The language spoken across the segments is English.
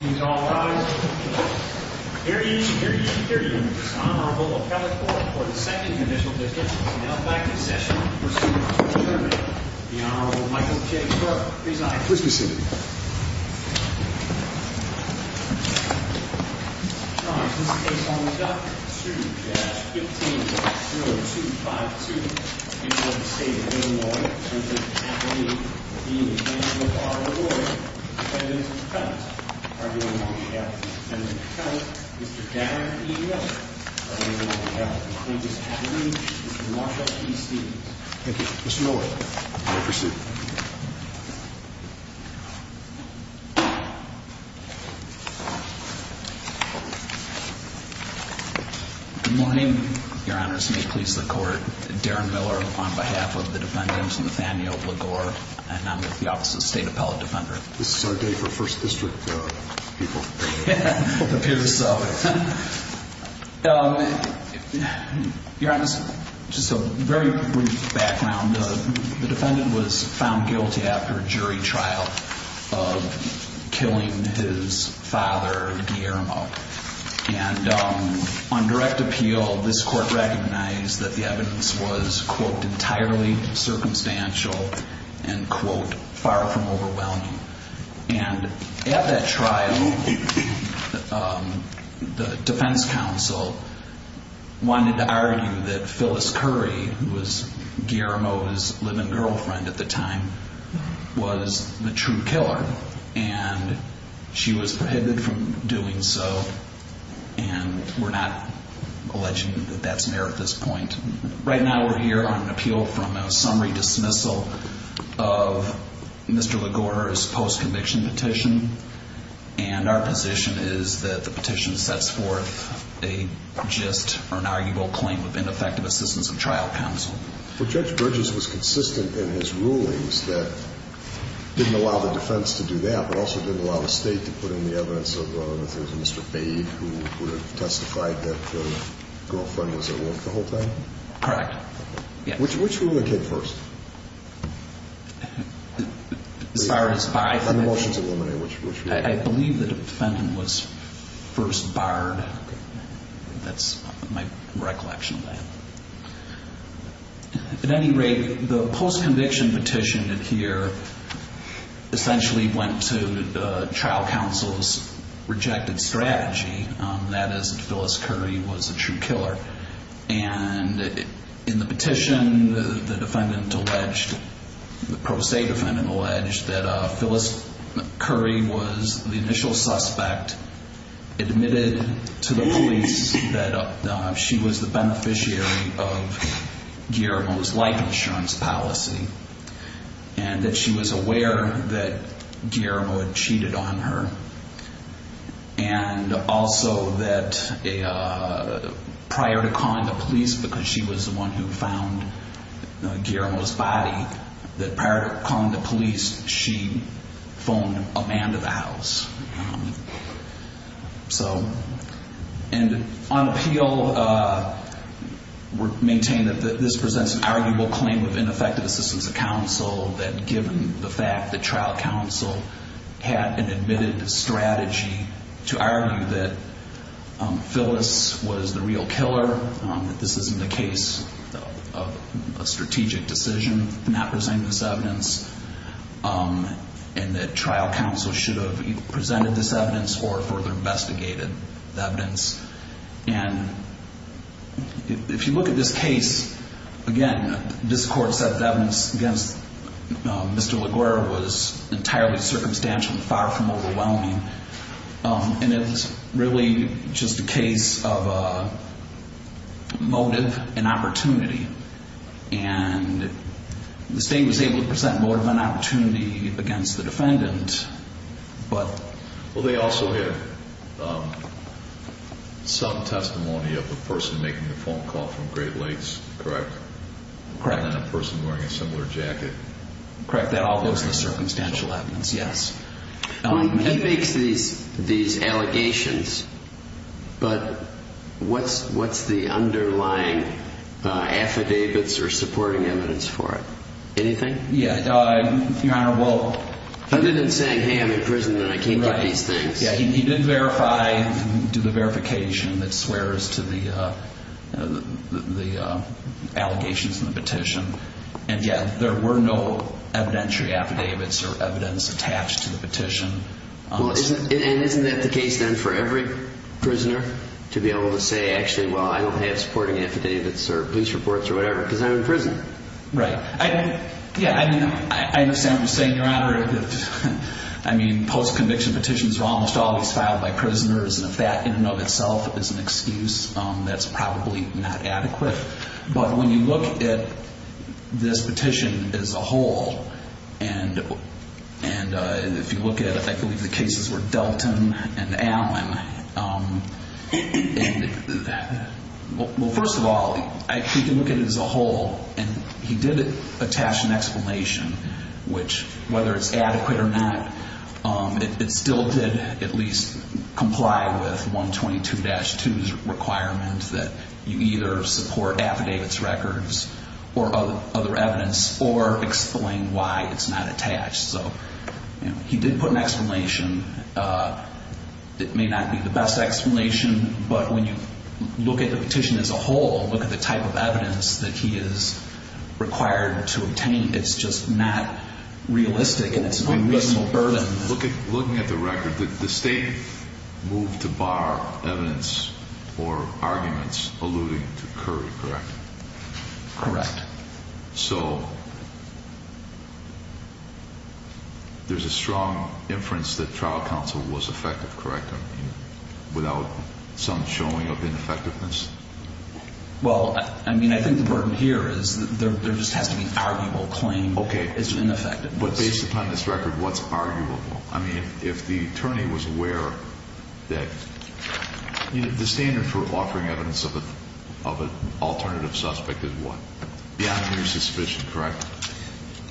He's all right. Here you hear you hear you. Honorable second condition. Now back in session. The Honorable Michael J. Reside Christmas City. Sue 5 two. Thank you. Good morning, Your Honor. Please support Darren Miller on behalf of the defendant's Nathaniel Legore and I'm with the Office of State Appellate Defender. This is our day for First District people. Your Honor, just a very brief background. The defendant was found guilty after a jury trial of killing his father Guillermo and on direct appeal. This court recognized that the evidence was quote entirely circumstantial and quote far from overwhelming and at that trial the defense counsel wanted to argue that Phyllis Curry was Guillermo's living girlfriend at the time was the true killer and she was prohibited from doing so. And we're not alleging that that's near at this point. Right now. We're here on an appeal from a summary dismissal of Mr. Legore's post-conviction petition and our position is that the petition sets forth a just or an arguable claim of ineffective assistance of trial counsel. Well, Judge Bridges was consistent in his rulings that didn't allow the defense to do that, but also didn't allow the state to put in the evidence of Mr. Bade who testified that the girlfriend was at work the whole time? Correct. Yeah. Which one was the kid first? As far as I believe the defendant was first barred. That's my recollection of that. At any rate, the post-conviction petition here essentially went to the trial counsel's rejected strategy. That is Phyllis Curry was a true killer. And in the petition, the defendant alleged, the pro se defendant alleged that Phyllis Curry was the initial suspect admitted to the police that she was the beneficiary of Guillermo's life insurance policy and that she was aware that Guillermo had cheated on her. And also that prior to calling the police, because she was the one who found Guillermo's body, that prior to calling the police, she phoned a man to the house. And on appeal, we're maintaining that this presents an arguable claim of ineffective assistance of counsel that given the fact that trial counsel had an admitted strategy to argue that Phyllis was the real killer, that this isn't a case of a strategic decision to not present this evidence, and that trial counsel should have presented this evidence or further investigated the evidence. And if you look at this case, again, this court's set of evidence against Mr. LaGuerra was entirely circumstantial and far from overwhelming. And it was really just a case of motive and opportunity. And the state was able to present motive and opportunity against the defendant, but... Well, they also have some testimony of the person making the phone call from Great Lakes, correct? Correct. And then a person wearing a similar jacket. Correct. That all goes to the circumstantial evidence, yes. He makes these allegations, but what's the underlying affidavits or supporting evidence for it? Anything? Yeah. Your Honor, well... He didn't say, hey, I'm in prison and I can't give these things. Yeah, he didn't verify, do the verification that swears to the allegations in the petition. And yeah, there were no evidentiary affidavits or evidence attached to the petition. And isn't that the case then for every prisoner to be able to say, actually, well, I don't have supporting affidavits or police reports or whatever, because I'm in prison. Right. Yeah. I mean, I understand what you're saying, Your Honor. I mean, post-conviction petitions are almost always filed by prisoners, and if that in and of itself is an excuse, that's probably not adequate. But when you look at this petition as a whole, and if you look at it, I believe the cases were Delton and Allen. Well, first of all, if you can look at it as a whole, and he did attach an explanation, which whether it's adequate or not, it still did at least comply with 122-2's requirement that you either support affidavits records or other evidence or explain why it's not attached. So he did put an explanation. It may not be the best explanation. But when you look at the petition as a whole, look at the type of evidence that he is required to obtain, it's just not realistic and it's a reasonable burden. Looking at the record, the state moved to bar evidence or arguments alluding to Curry, correct? Correct. So there's a strong inference that trial counsel was effective, correct, without some showing of ineffectiveness? Well, I mean, I think the burden here is that there just has to be an arguable claim. Okay, but based upon this record, what's arguable? I mean, if the attorney was aware that the standard for offering evidence of an alternative suspect is what? Beyond a mere suspicion, correct?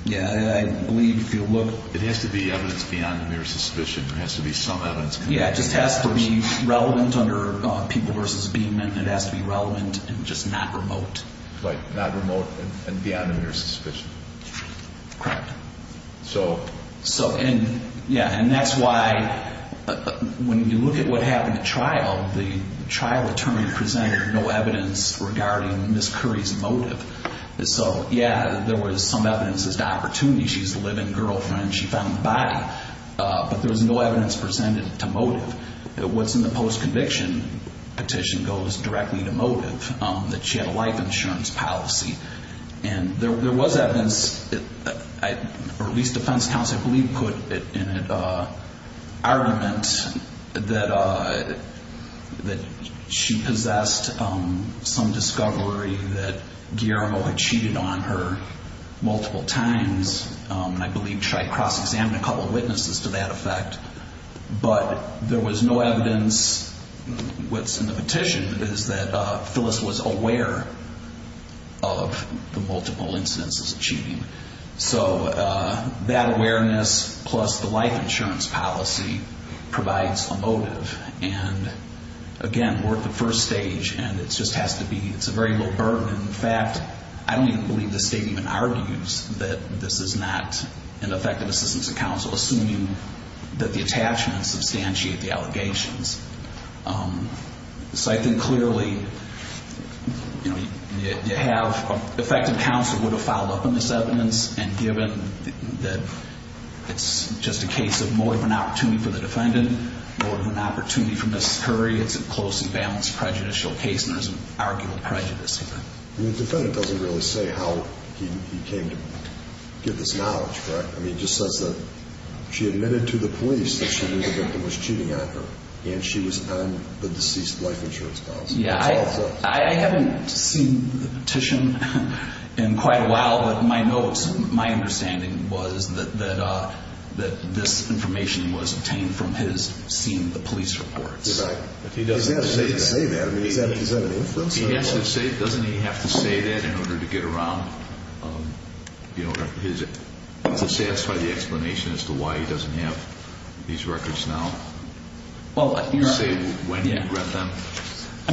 Yeah, I believe if you look. It has to be evidence beyond a mere suspicion. There has to be some evidence. Yeah, it just has to be relevant under People v. Beamon. It has to be relevant and just not remote. Right, not remote and beyond a mere suspicion. Correct. So. So and yeah, and that's why when you look at what happened at trial, the trial attorney presented no evidence regarding Ms. Curry's motive. So yeah, there was some evidence as to opportunity. She's a living girlfriend. She found the body, but there was no evidence presented to motive. What's in the post-conviction petition goes directly to motive, that she had a life insurance policy. put in an argument that she possessed some discovery that Guillermo had cheated on her multiple times. And I believe she had cross-examined a couple of witnesses to that effect, but there was no evidence. What's in the petition is that Phyllis was aware of the multiple incidences of cheating. So that awareness plus the life insurance policy provides a motive. And again, we're at the first stage and it just has to be, it's a very little burden. In fact, I don't even believe the state even argues that this is not an effective assistance to counsel, assuming that the attachments substantiate the allegations. So I think clearly, you know, you have effective counsel who would have followed up on this evidence and given that it's just a case of motive and opportunity for the defendant, motive and opportunity for Mrs. Curry. It's a closely balanced prejudicial case and there's an arguable prejudice here. The defendant doesn't really say how he came to get this knowledge, correct? I mean, it just says that she admitted to the police that she knew the victim was cheating on her and she was on the deceased life insurance policy. Yeah, I haven't seen the petition in quite a while, but my notes, my understanding was that this information was obtained from his seeing the police reports. Right, but he doesn't have to say that. I mean, is that an inference? He has to say, doesn't he have to say that in order to get around, you know, to satisfy the explanation as to why he doesn't have these records now? Well, I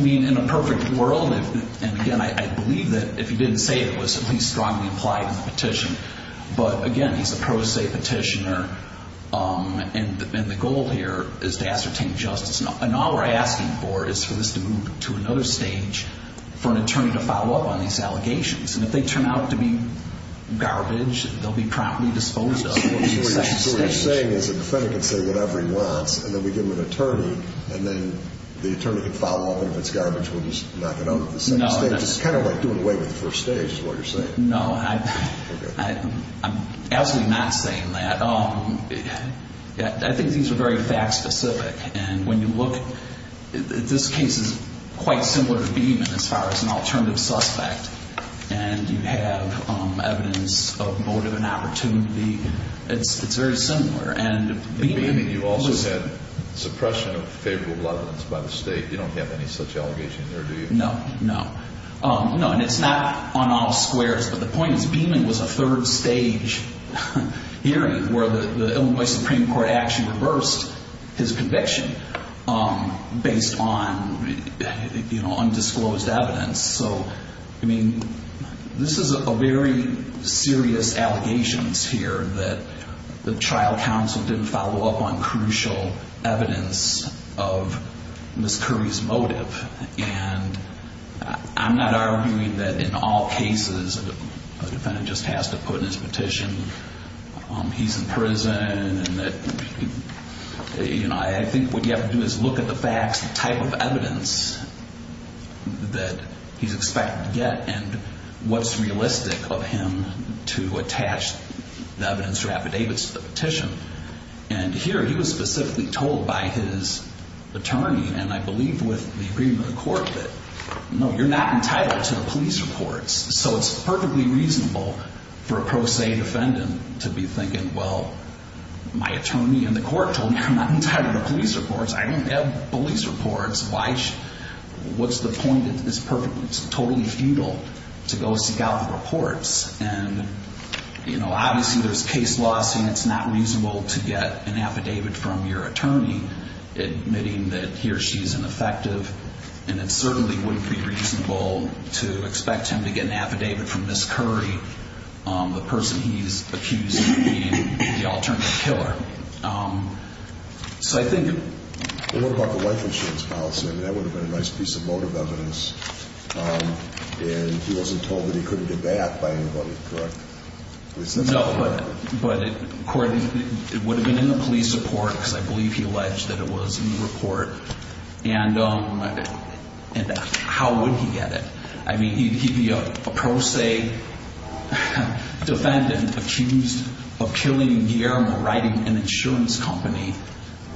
mean, in a perfect world, and again, I believe that if he didn't say it was at least strongly applied in the petition, but again, he's a pro se petitioner and the goal here is to ascertain justice. And all we're asking for is for this to move to another stage for an attorney to follow up on these allegations. And if they turn out to be garbage, they'll be promptly disposed of. What you're saying is the defendant can say whatever he wants, we give him an attorney and then the attorney can follow up. And if it's garbage, we'll just knock it out. It's kind of like doing away with the first stage is what you're saying. No, I'm absolutely not saying that. I think these are very fact specific. And when you look at this case is quite similar to Beeman as far as an alternative suspect. And you have evidence of motive and opportunity. It's very similar. And you also said suppression of favorable evidence by the state. You don't have any such allegation there, do you? No, no, no. And it's not on all squares, but the point is Beeman was a third stage hearing where the Illinois Supreme Court actually reversed his conviction based on undisclosed evidence. So, I mean, this is a very serious allegations here that the trial counsel didn't follow up on crucial evidence of Ms. Curry's motive. And I'm not arguing that in all cases, a defendant just has to put in his petition. He's in prison and that, you know, I think what you have to do is look at the facts, the type of evidence that he's expected to get and what's realistic of him to attach the evidence or affidavits to the petition. And here he was specifically told by his attorney, and I believe with the agreement of the court, that, no, you're not entitled to the police reports. So it's perfectly reasonable for a pro se defendant to be thinking, well, my attorney and the court told me I'm not entitled to police reports. I don't have police reports. What's the point? It's totally futile to go seek out the reports. And, you know, obviously there's case law saying it's not reasonable to get an affidavit from your attorney, admitting that he or she is ineffective. And it certainly wouldn't be reasonable to expect him to get an affidavit from Ms. Curry, the person he's accused of being the alternative killer. So I think... What about the life insurance policy? I mean, that would have been a nice piece of motive evidence. And he wasn't told that he couldn't get that by anybody, correct? No, but according to... It would have been in the police report, because I believe he alleged that it was in the report. And how would he get it? I mean, a pro se defendant accused of killing Guillermo writing an insurance company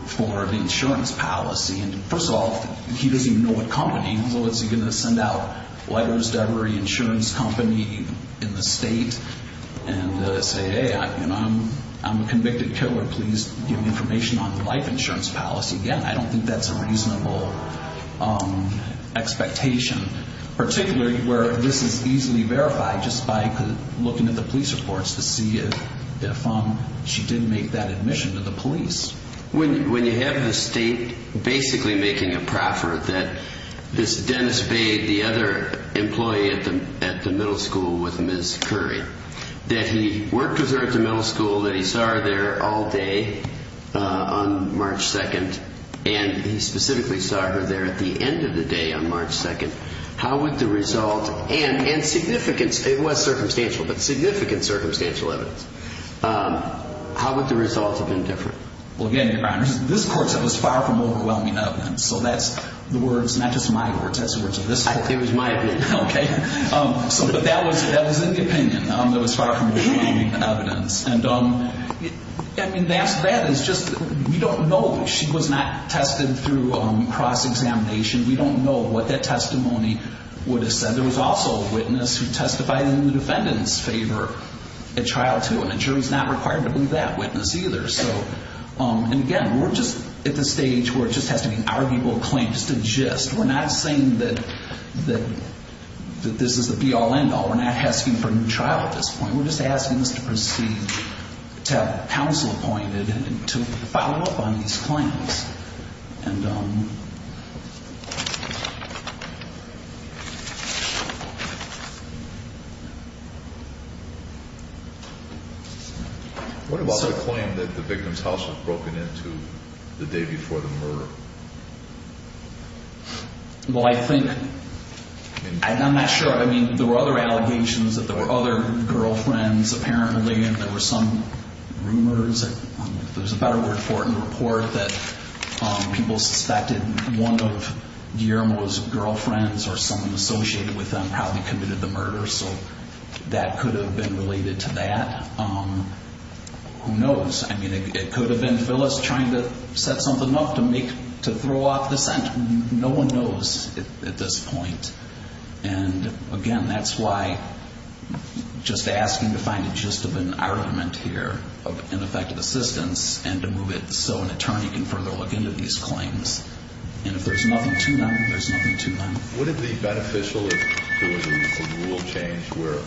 for the insurance policy. And first of all, he doesn't even know what company. What's he going to send out letters to every insurance company in the state and say, hey, I'm a convicted killer. Please give me information on the life insurance policy. Again, I don't think that's a reasonable expectation, particularly where this is easily verified just by looking at the police reports to see if she did make that admission to the police. When you have the state basically making a proffer that this Dennis Bade, the other employee at the middle school with Ms. Curry, that he worked with her at the middle school, that he saw her there all day on March 2nd, and he specifically saw her there at the end of the day on March 2nd. How would the result, and significance, it was circumstantial, but significant circumstantial evidence. How would the results have been different? Well, again, Your Honor, this course was far from overwhelming evidence. So that's the words, not just my words, that's the words of this court. It was my opinion. Okay. So, but that was in the opinion. It was far from overwhelming evidence. And I mean, that is just, we don't know that she was not tested through cross-examination. We don't know what that testimony would have said. There was also a witness who testified in the defendant's favor at trial too, and insurance is not required to believe that witness either. So, and again, we're just at the stage where it just has to be an arguable claim, just a gist. We're not saying that this is the be-all end-all. We're not asking for a new trial at this point. We're just asking this to proceed, to have counsel appointed, and to follow up on these claims. And, um... What about the claim that the victim's house was broken into the day before the murder? Well, I think, and I'm not sure. I mean, there were other allegations that there were other girlfriends apparently, and there were some rumors, if there's a report that people suspected one of Guillermo's girlfriends or someone associated with them probably committed the murder. So that could have been related to that. Who knows? I mean, it could have been Phyllis trying to set something up to make, to throw off the scent. No one knows at this point. And again, that's why just asking to find a gist of an argument here of ineffective assistance and to move it so an attorney can further look into these claims. And if there's nothing to them, there's nothing to them. Would it be beneficial if there was a rule change where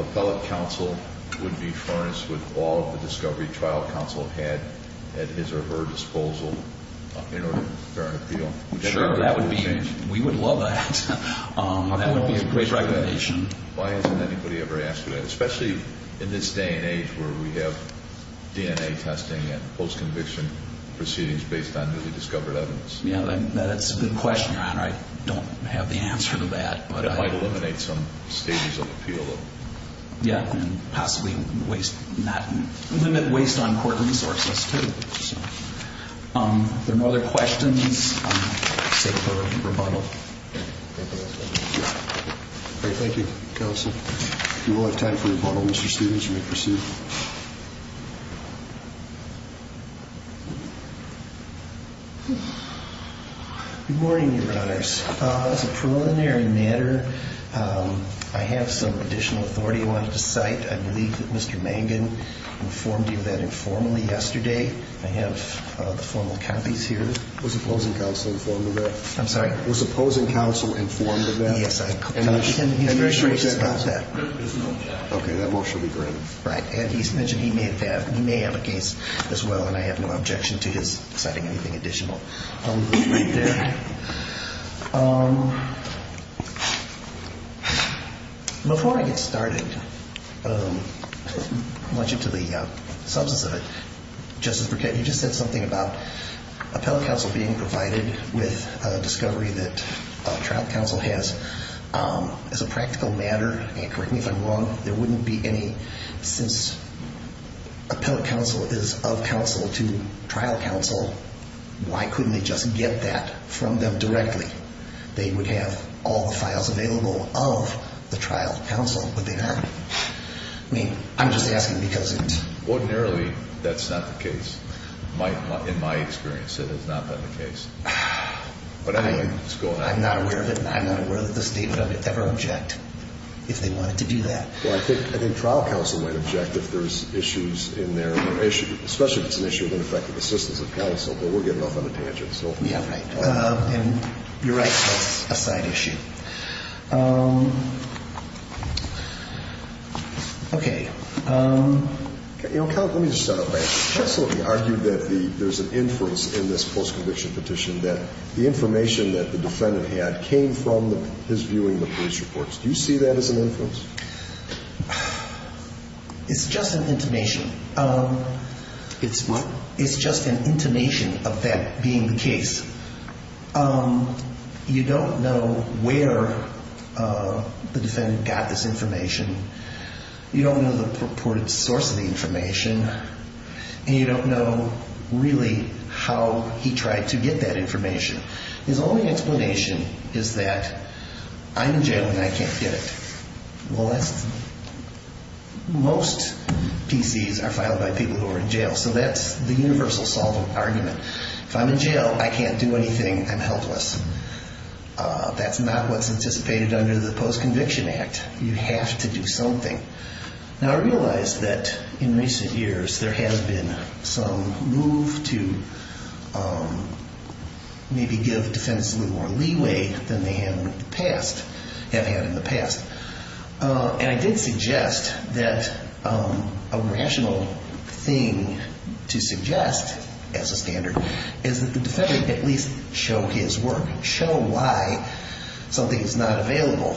appellate counsel would be furnished with all of the discovery trial counsel had at his or her disposal in order to bear an appeal? Sure, that would be, we would love that. That would be a great recommendation. Why hasn't anybody ever asked for that? Especially in this day and age where we have DNA testing and post-conviction proceedings based on newly discovered evidence. Yeah, that's a good question, Your Honor. I don't have the answer to that. It might eliminate some stages of appeal. Yeah, and possibly limit waste on court resources, too. If there are no other questions, I'll take the rebuttal. Thank you, counsel. You will have time for rebuttal, Mr. Stevens, when you proceed. Good morning, Your Honors. As a preliminary matter, I have some additional authority I wanted to cite. I believe that Mr. Mangan informed you of that informally yesterday. I have the formal copies here. Was opposing counsel informed of that? I'm sorry? Was opposing counsel informed of that? Yes, I am. Okay, that motion will be granted. Right, and he mentioned he may have a case as well, and I have no objection to his citing anything additional. Right there. Before I get started, I want you to the substance of it, Justice Burkett, you just said something about trial counsel has, as a practical matter, and correct me if I'm wrong, there wouldn't be any, since appellate counsel is of counsel to trial counsel, why couldn't they just get that from them directly? They would have all the files available of the trial counsel, but they don't. I mean, I'm just asking because it's... Ordinarily, that's not the case. In my experience, it has not been the case. But I'm not aware of it, and I'm not aware that the state would ever object if they wanted to do that. Well, I think trial counsel might object if there's issues in their, especially if it's an issue of ineffective assistance of counsel, but we're getting off on a tangent, so. Yeah, right, and you're right, that's a side issue. Okay. Counsel, let me just start off by, you absolutely argued that there's an inference in this postconviction petition that the information that the defendant had came from his viewing the police reports. Do you see that as an inference? It's just an intimation. It's what? It's just an intimation of that being the case. You don't know where the defendant got this information. You don't know the purported source of the information. And you don't know, really, how he tried to get that information. His only explanation is that, I'm in jail and I can't get it. Well, that's... Most PCs are filed by people who are in jail, so that's the universal solvent argument. If I'm in jail, I can't do anything, I'm helpless. That's not what's anticipated under the Postconviction Act. You have to do something. Now, I realize that in recent years there has been some move to maybe give defense a little more leeway than they have in the past. And I did suggest that a rational thing to suggest as a standard is that the defendant at least show his work, show why something is not available.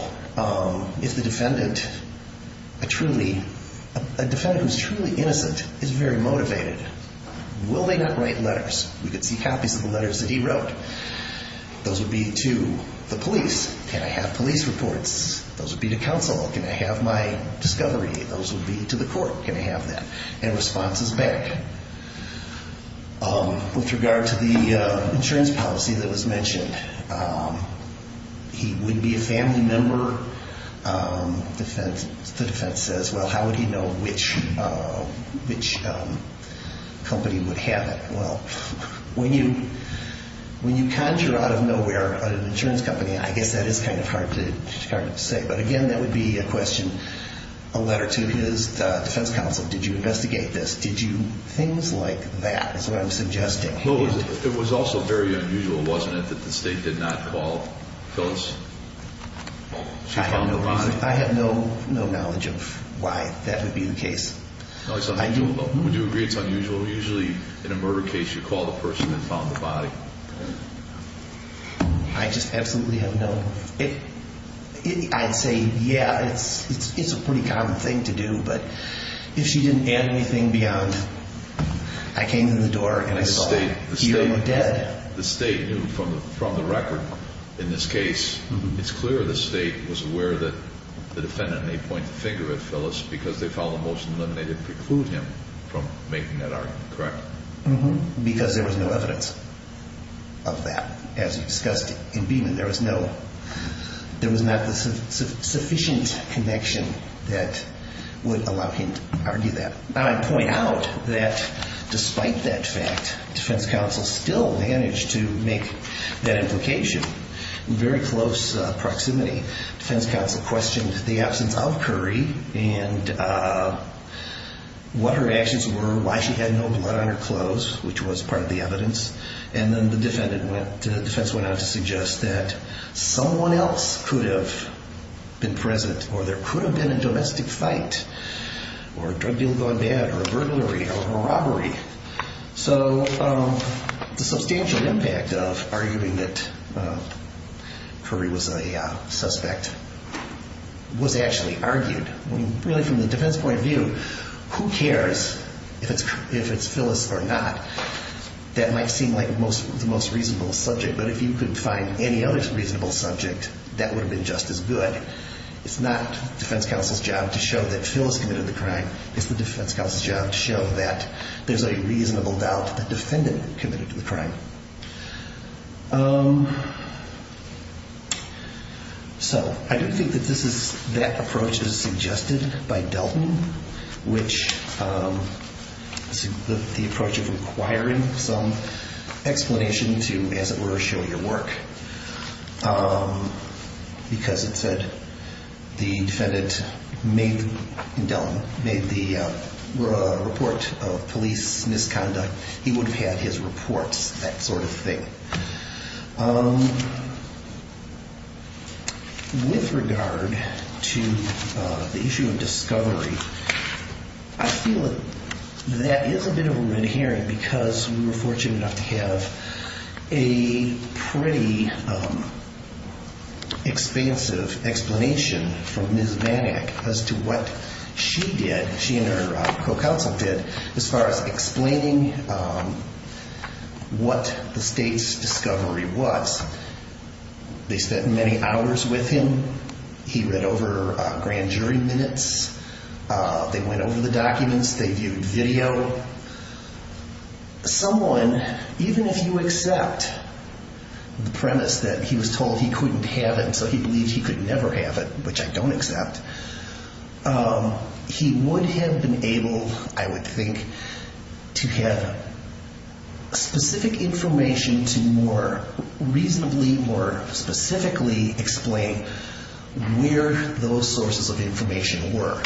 If the defendant, a defendant who is truly innocent, is very motivated, will they not write letters? We could see copies of the letters that he wrote. Those would be to the police. Can I have police reports? Those would be to counsel. Can I have my discovery? Those would be to the court. And responses back. With regard to the insurance policy that was mentioned, he would be a family member. The defense says, well, how would he know which company would have it? Well, when you conjure out of nowhere an insurance company, I guess that is kind of hard to say. But again, that would be a question, a letter to his defense counsel. Did you investigate this? Did you, things like that is what I'm suggesting. It was also very unusual, wasn't it, that the state did not call Phyllis? She found the body. I have no knowledge of why that would be the case. Would you agree it's unusual? Usually, in a murder case, you call the person and found the body. I just absolutely have no, I'd say, yeah, it's a pretty common thing to do. But if she didn't add anything beyond, I came to the door and I saw. You were dead. The state knew from the record in this case. It's clear the state was aware that the defendant may point the finger at Phyllis because they found the most limited preclude him from making that argument, correct? Because there was no evidence of that. As you discussed in Beeman, there was no, there was not the sufficient connection that would allow him to argue that. I point out that despite that fact, defense counsel still managed to make that implication in very close proximity. Defense counsel questioned the absence of Curry and what her actions were, why she had no blood on her clothes, which was part of the evidence. Then the defense went on to suggest that someone else could have been present or there could have been a domestic fight or a drug deal gone bad or a burglary or a robbery. So the substantial impact of arguing that Curry was a suspect was actually argued. Really from the defense point of view, who cares if it's Phyllis or not? That might seem like the most reasonable subject, but if you could find any other reasonable subject, that would have been just as good. It's not defense counsel's job to show that Phyllis committed the crime. It's the defense counsel's job to show that there's a reasonable doubt that the defendant committed the crime. So I do think that this is, that approach is suggested by Delton, which the approach of requiring some explanation to, as it were, show your work. Because it said the defendant made, in Delton, made the report of police misconduct. He would have had his reports, that sort of thing. With regard to the issue of discovery, I feel that that is a bit of a red herring because we were fortunate enough to have a pretty expansive explanation from Ms. Vanek as to what she did, she and her co-counsel did, as far as explaining what the state's discovery was. They spent many hours with him. He read over grand jury minutes. They went over the documents. They viewed video. Someone, even if you accept the premise that he was told he couldn't have it and so he believed he could never have it, which I don't accept, he would have been able, I would think, to have specific information to more reasonably, more specifically explain where those sources of information were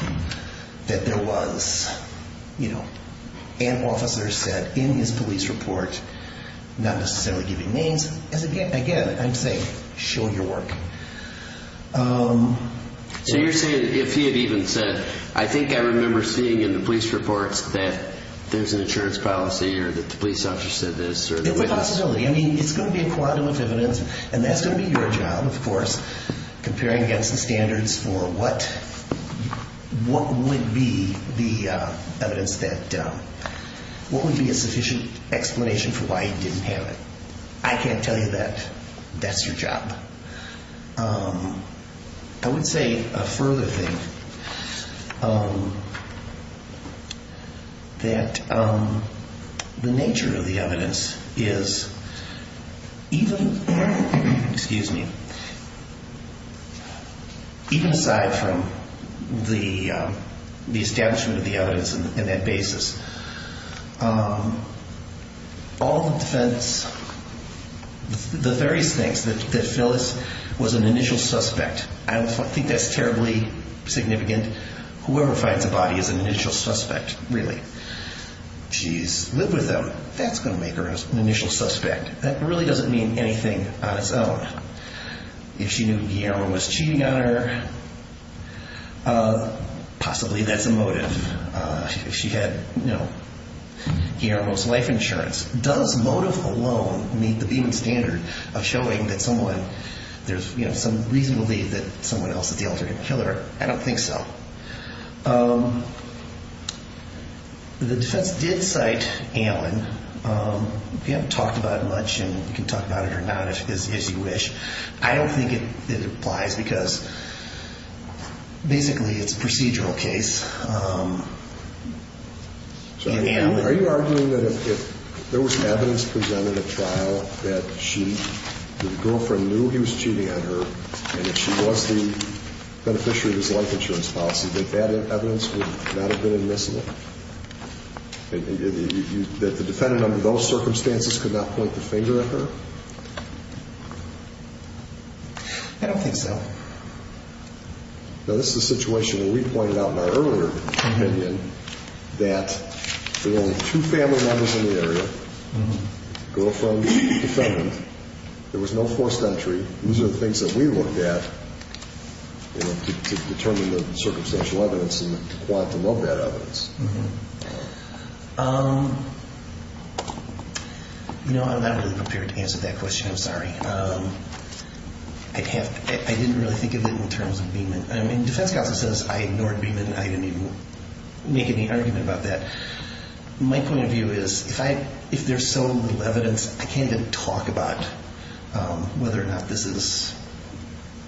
that there was, you know, an officer said in his police report, not necessarily giving names, as again, I'm saying, show your work. So you're saying, if he had even said, I think I remember seeing in the police reports that there's an insurance policy or that the police officer said this? It's a possibility. I mean, it's going to be a quantum of evidence and that's going to be your job, of course, comparing against the standards for what would be the evidence that, what would be a sufficient explanation for why he didn't have it. I can't tell you that. That's your job. I would say a further thing that the nature of the evidence is even, excuse me, even aside from the establishment of the evidence and that basis, all the defense, the various things that Phyllis was an initial suspect, I don't think that's terribly significant. Whoever finds a body is an initial suspect, really. Jeez, live with them. That's going to make her an initial suspect. That really doesn't mean anything on its own. If she knew Guillermo was cheating on her, possibly that's a motive. If she had, you know, Guillermo's life insurance. Does motive alone meet the Beeman standard of showing that someone, there's some reason to believe that someone else is the alternate killer? I don't think so. The defense did cite Allen. We haven't talked about it much and you can talk about it or not as you wish. I don't think it applies because basically it's a procedural case. Are you arguing that if there was evidence presented at trial that the girlfriend knew he was cheating on her and that she was the beneficiary of his life insurance policy, that that evidence would not have been admissible? That the defendant under those circumstances could not point the finger at her? I don't think so. Now this is a situation where we pointed out in our earlier opinion that there were only two family members in the area, girlfriend, defendant. There was no forced entry. These are the things that we looked at to determine the circumstantial evidence and the quantum of that evidence. No, I'm not really prepared to answer that. I'm sorry. I didn't really think of it in terms of Beeman. Defense counsel says I ignored Beeman. I didn't even make any argument about that. My point of view is if there's so little evidence, I can't even talk about whether or not this is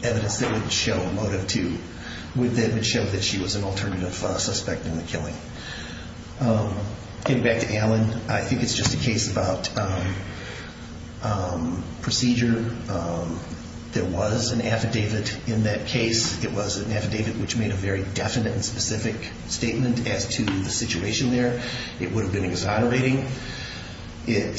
evidence that would show motive two, that would show that she was an alternative suspect in the killing. Getting back to Allen, I think it's just a case about procedure. There was an affidavit in that case. It was an affidavit which made a very definite and specific statement as to the situation there. It would have been exonerating. It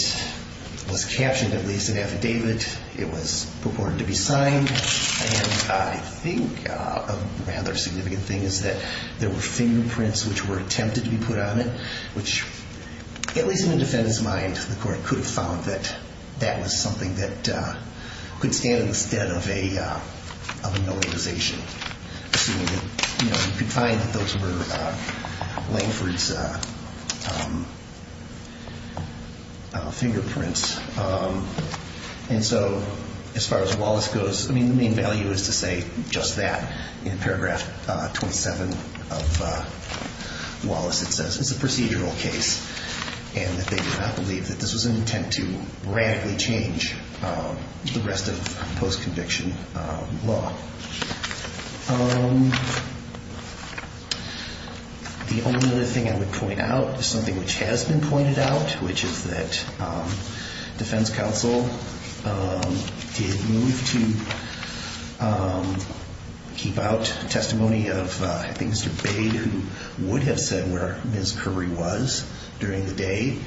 was captioned, at least, an affidavit. It was purported to be signed. And I think a rather significant thing is that there were fingerprints which were attempted to be put on it, which, at least in the defendant's mind, the court could have found that that was something that could stand in the stead of a notarization. You could find that those were Langford's fingerprints. As far as Wallace goes, the main value is to say just that. In paragraph 27 of Wallace, it says, it's a procedural case and that they do not believe that this was an intent to radically change the rest of post-conviction law. The only other thing I would point out is something which has been pointed out, which is that Defense Counsel did move to keep out testimony of, I think, Mr. Bade, who would have said where Ms. Curry was. During the day,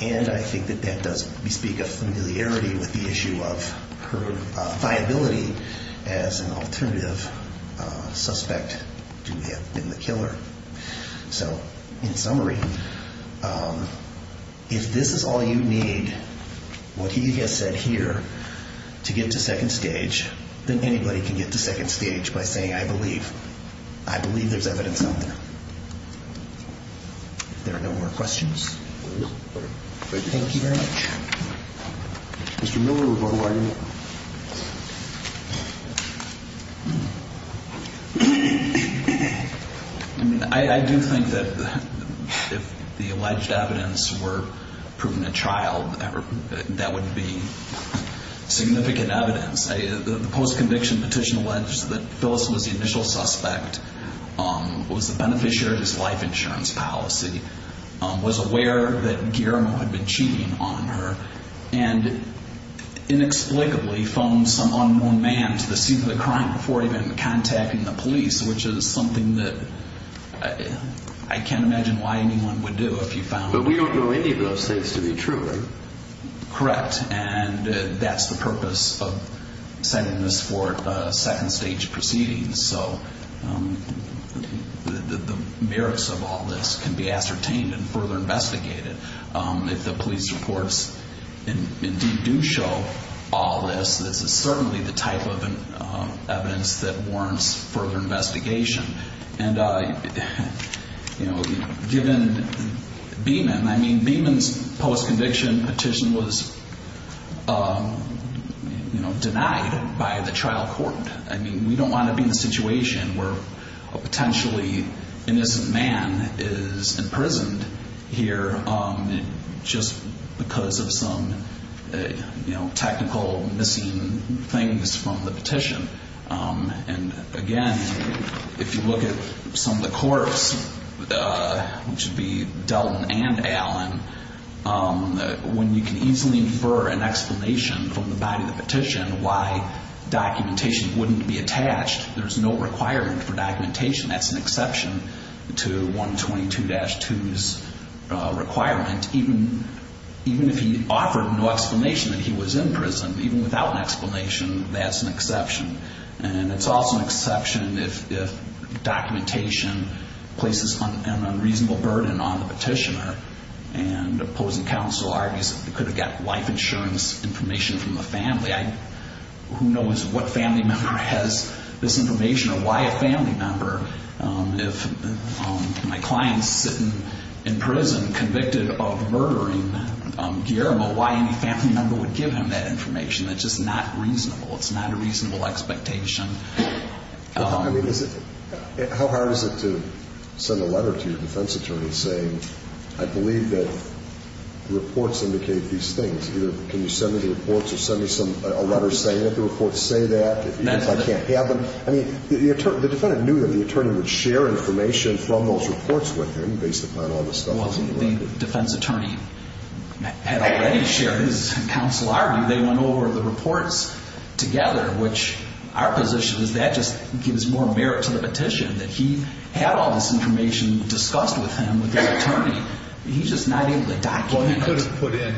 and I think that that does bespeak a familiarity with the issue of her viability as an alternative suspect in the killer. So, in summary, if this is all you need, what he has said here, to get to second stage, then anybody can get to second stage by saying, I believe. I believe there's evidence out there. If there are no more questions, thank you very much. Mr. Miller, who are you? I do think that if the alleged evidence were proven a child, that would be significant evidence. The post-conviction petition alleged that Phyllis was the initial suspect, was the beneficiary of his life insurance policy, was aware that Guillermo had been cheating on her, and inexplicably phoned some unknown man to the scene of the crime before even contacting the police, which is something that I can't imagine why anyone would do if you found out. But we don't know any of those things to be true, right? Correct, and that's the purpose of setting this for second stage proceedings. The merits of all this can be ascertained and further investigated. If the police reports indeed do show all this, this is certainly the type of evidence that warrants further investigation. Given Beeman, I mean, Beeman's post-conviction petition was denied by the trial court. We don't want to be in a situation where a potentially innocent man is imprisoned here just because of some technical missing things from the petition. Again, if you look at some of the courts, which would be Delton and Allen, when you can easily infer an explanation from the body of the petition and why documentation wouldn't be attached, there's no requirement for documentation. That's an exception to 122-2's requirement. Even if he offered no explanation that he was in prison, even without an explanation, that's an exception. And it's also an exception if documentation places an unreasonable burden on the petitioner and opposing counsel argues that he could have gotten life insurance information from the family. Who knows what family member has this information or why a family member if my client's sitting in prison convicted of murdering Guillermo, why any family member would give him that information. It's just not reasonable. It's not a reasonable expectation. How hard is it to send a letter to your defense attorney saying, I believe that reports indicate these things. Either can you send me the reports or send me a letter saying that the reports say that, even if I can't have them. I mean, the defendant knew that the attorney would share information from those reports with him based upon all the stuff. Well, the defense attorney had already shared his counsel argument. They went over the reports together, which our position is that just gives more merit to the petition, that he had all this information discussed with him with the attorney. He's just not able Well, he could have put in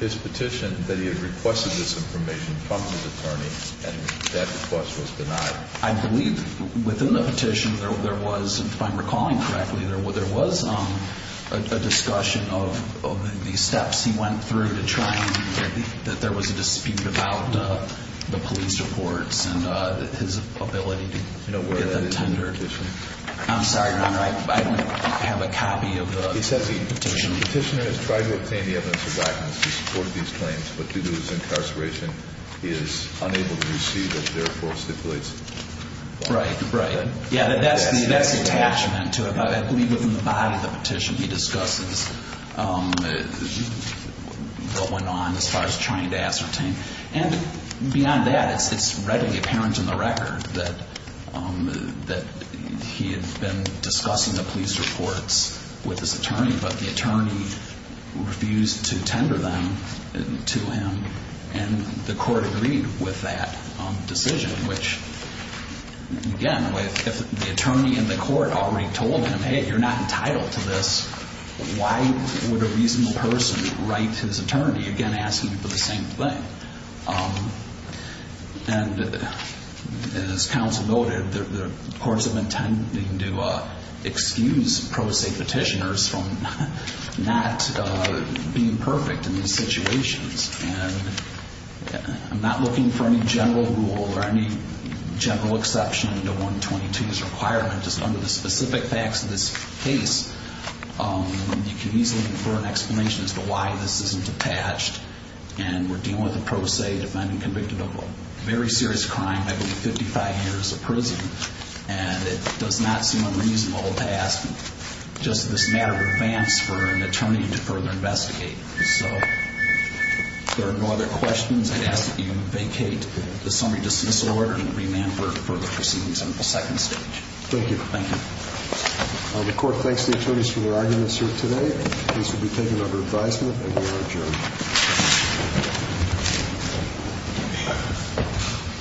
his petition that he had requested this information from his attorney, and that request was denied. I believe within the petition, there was if I'm recalling correctly, there was a discussion of the steps he went through to try and, that there was a dispute about the police reports and his ability to get them tendered. I'm sorry, Your Honor, I don't have a copy of the Petitioner has tried to obtain the evidence to support these claims, but due to his incarceration, he is unable to receive it, therefore stipulates Right, right. That's the attachment to it. I believe within the body of the petition, he discusses what went on as far as trying to ascertain. Beyond that, it's readily apparent in the record that he had been discussing the police reports with his attorney, but the attorney refused to tender them to him, and the court agreed with that decision, which again, if the attorney in the court already told him, hey, you're not entitled to this, why would a reasonable person write his attorney again asking for the same thing? And as counsel noted, the courts have been tending to excuse pro se petitioners from not being perfect in these situations, and I'm not looking for any general rule or any general exception to 122's requirement, just under the specific facts of this case, you can easily infer an explanation as to why this isn't attached, and we're dealing with a pro se defendant convicted of a very serious crime, I believe 55 years of prison, and it does not seem unreasonable to ask just this matter of advance for an attorney to further investigate, so if there are no other questions, I'd ask that you vacate the summary dismissal order and remand for further proceedings on the second stage. Thank you. The court thanks the attorneys for their arguments here today, and these will be taken under advisement, and we are adjourned.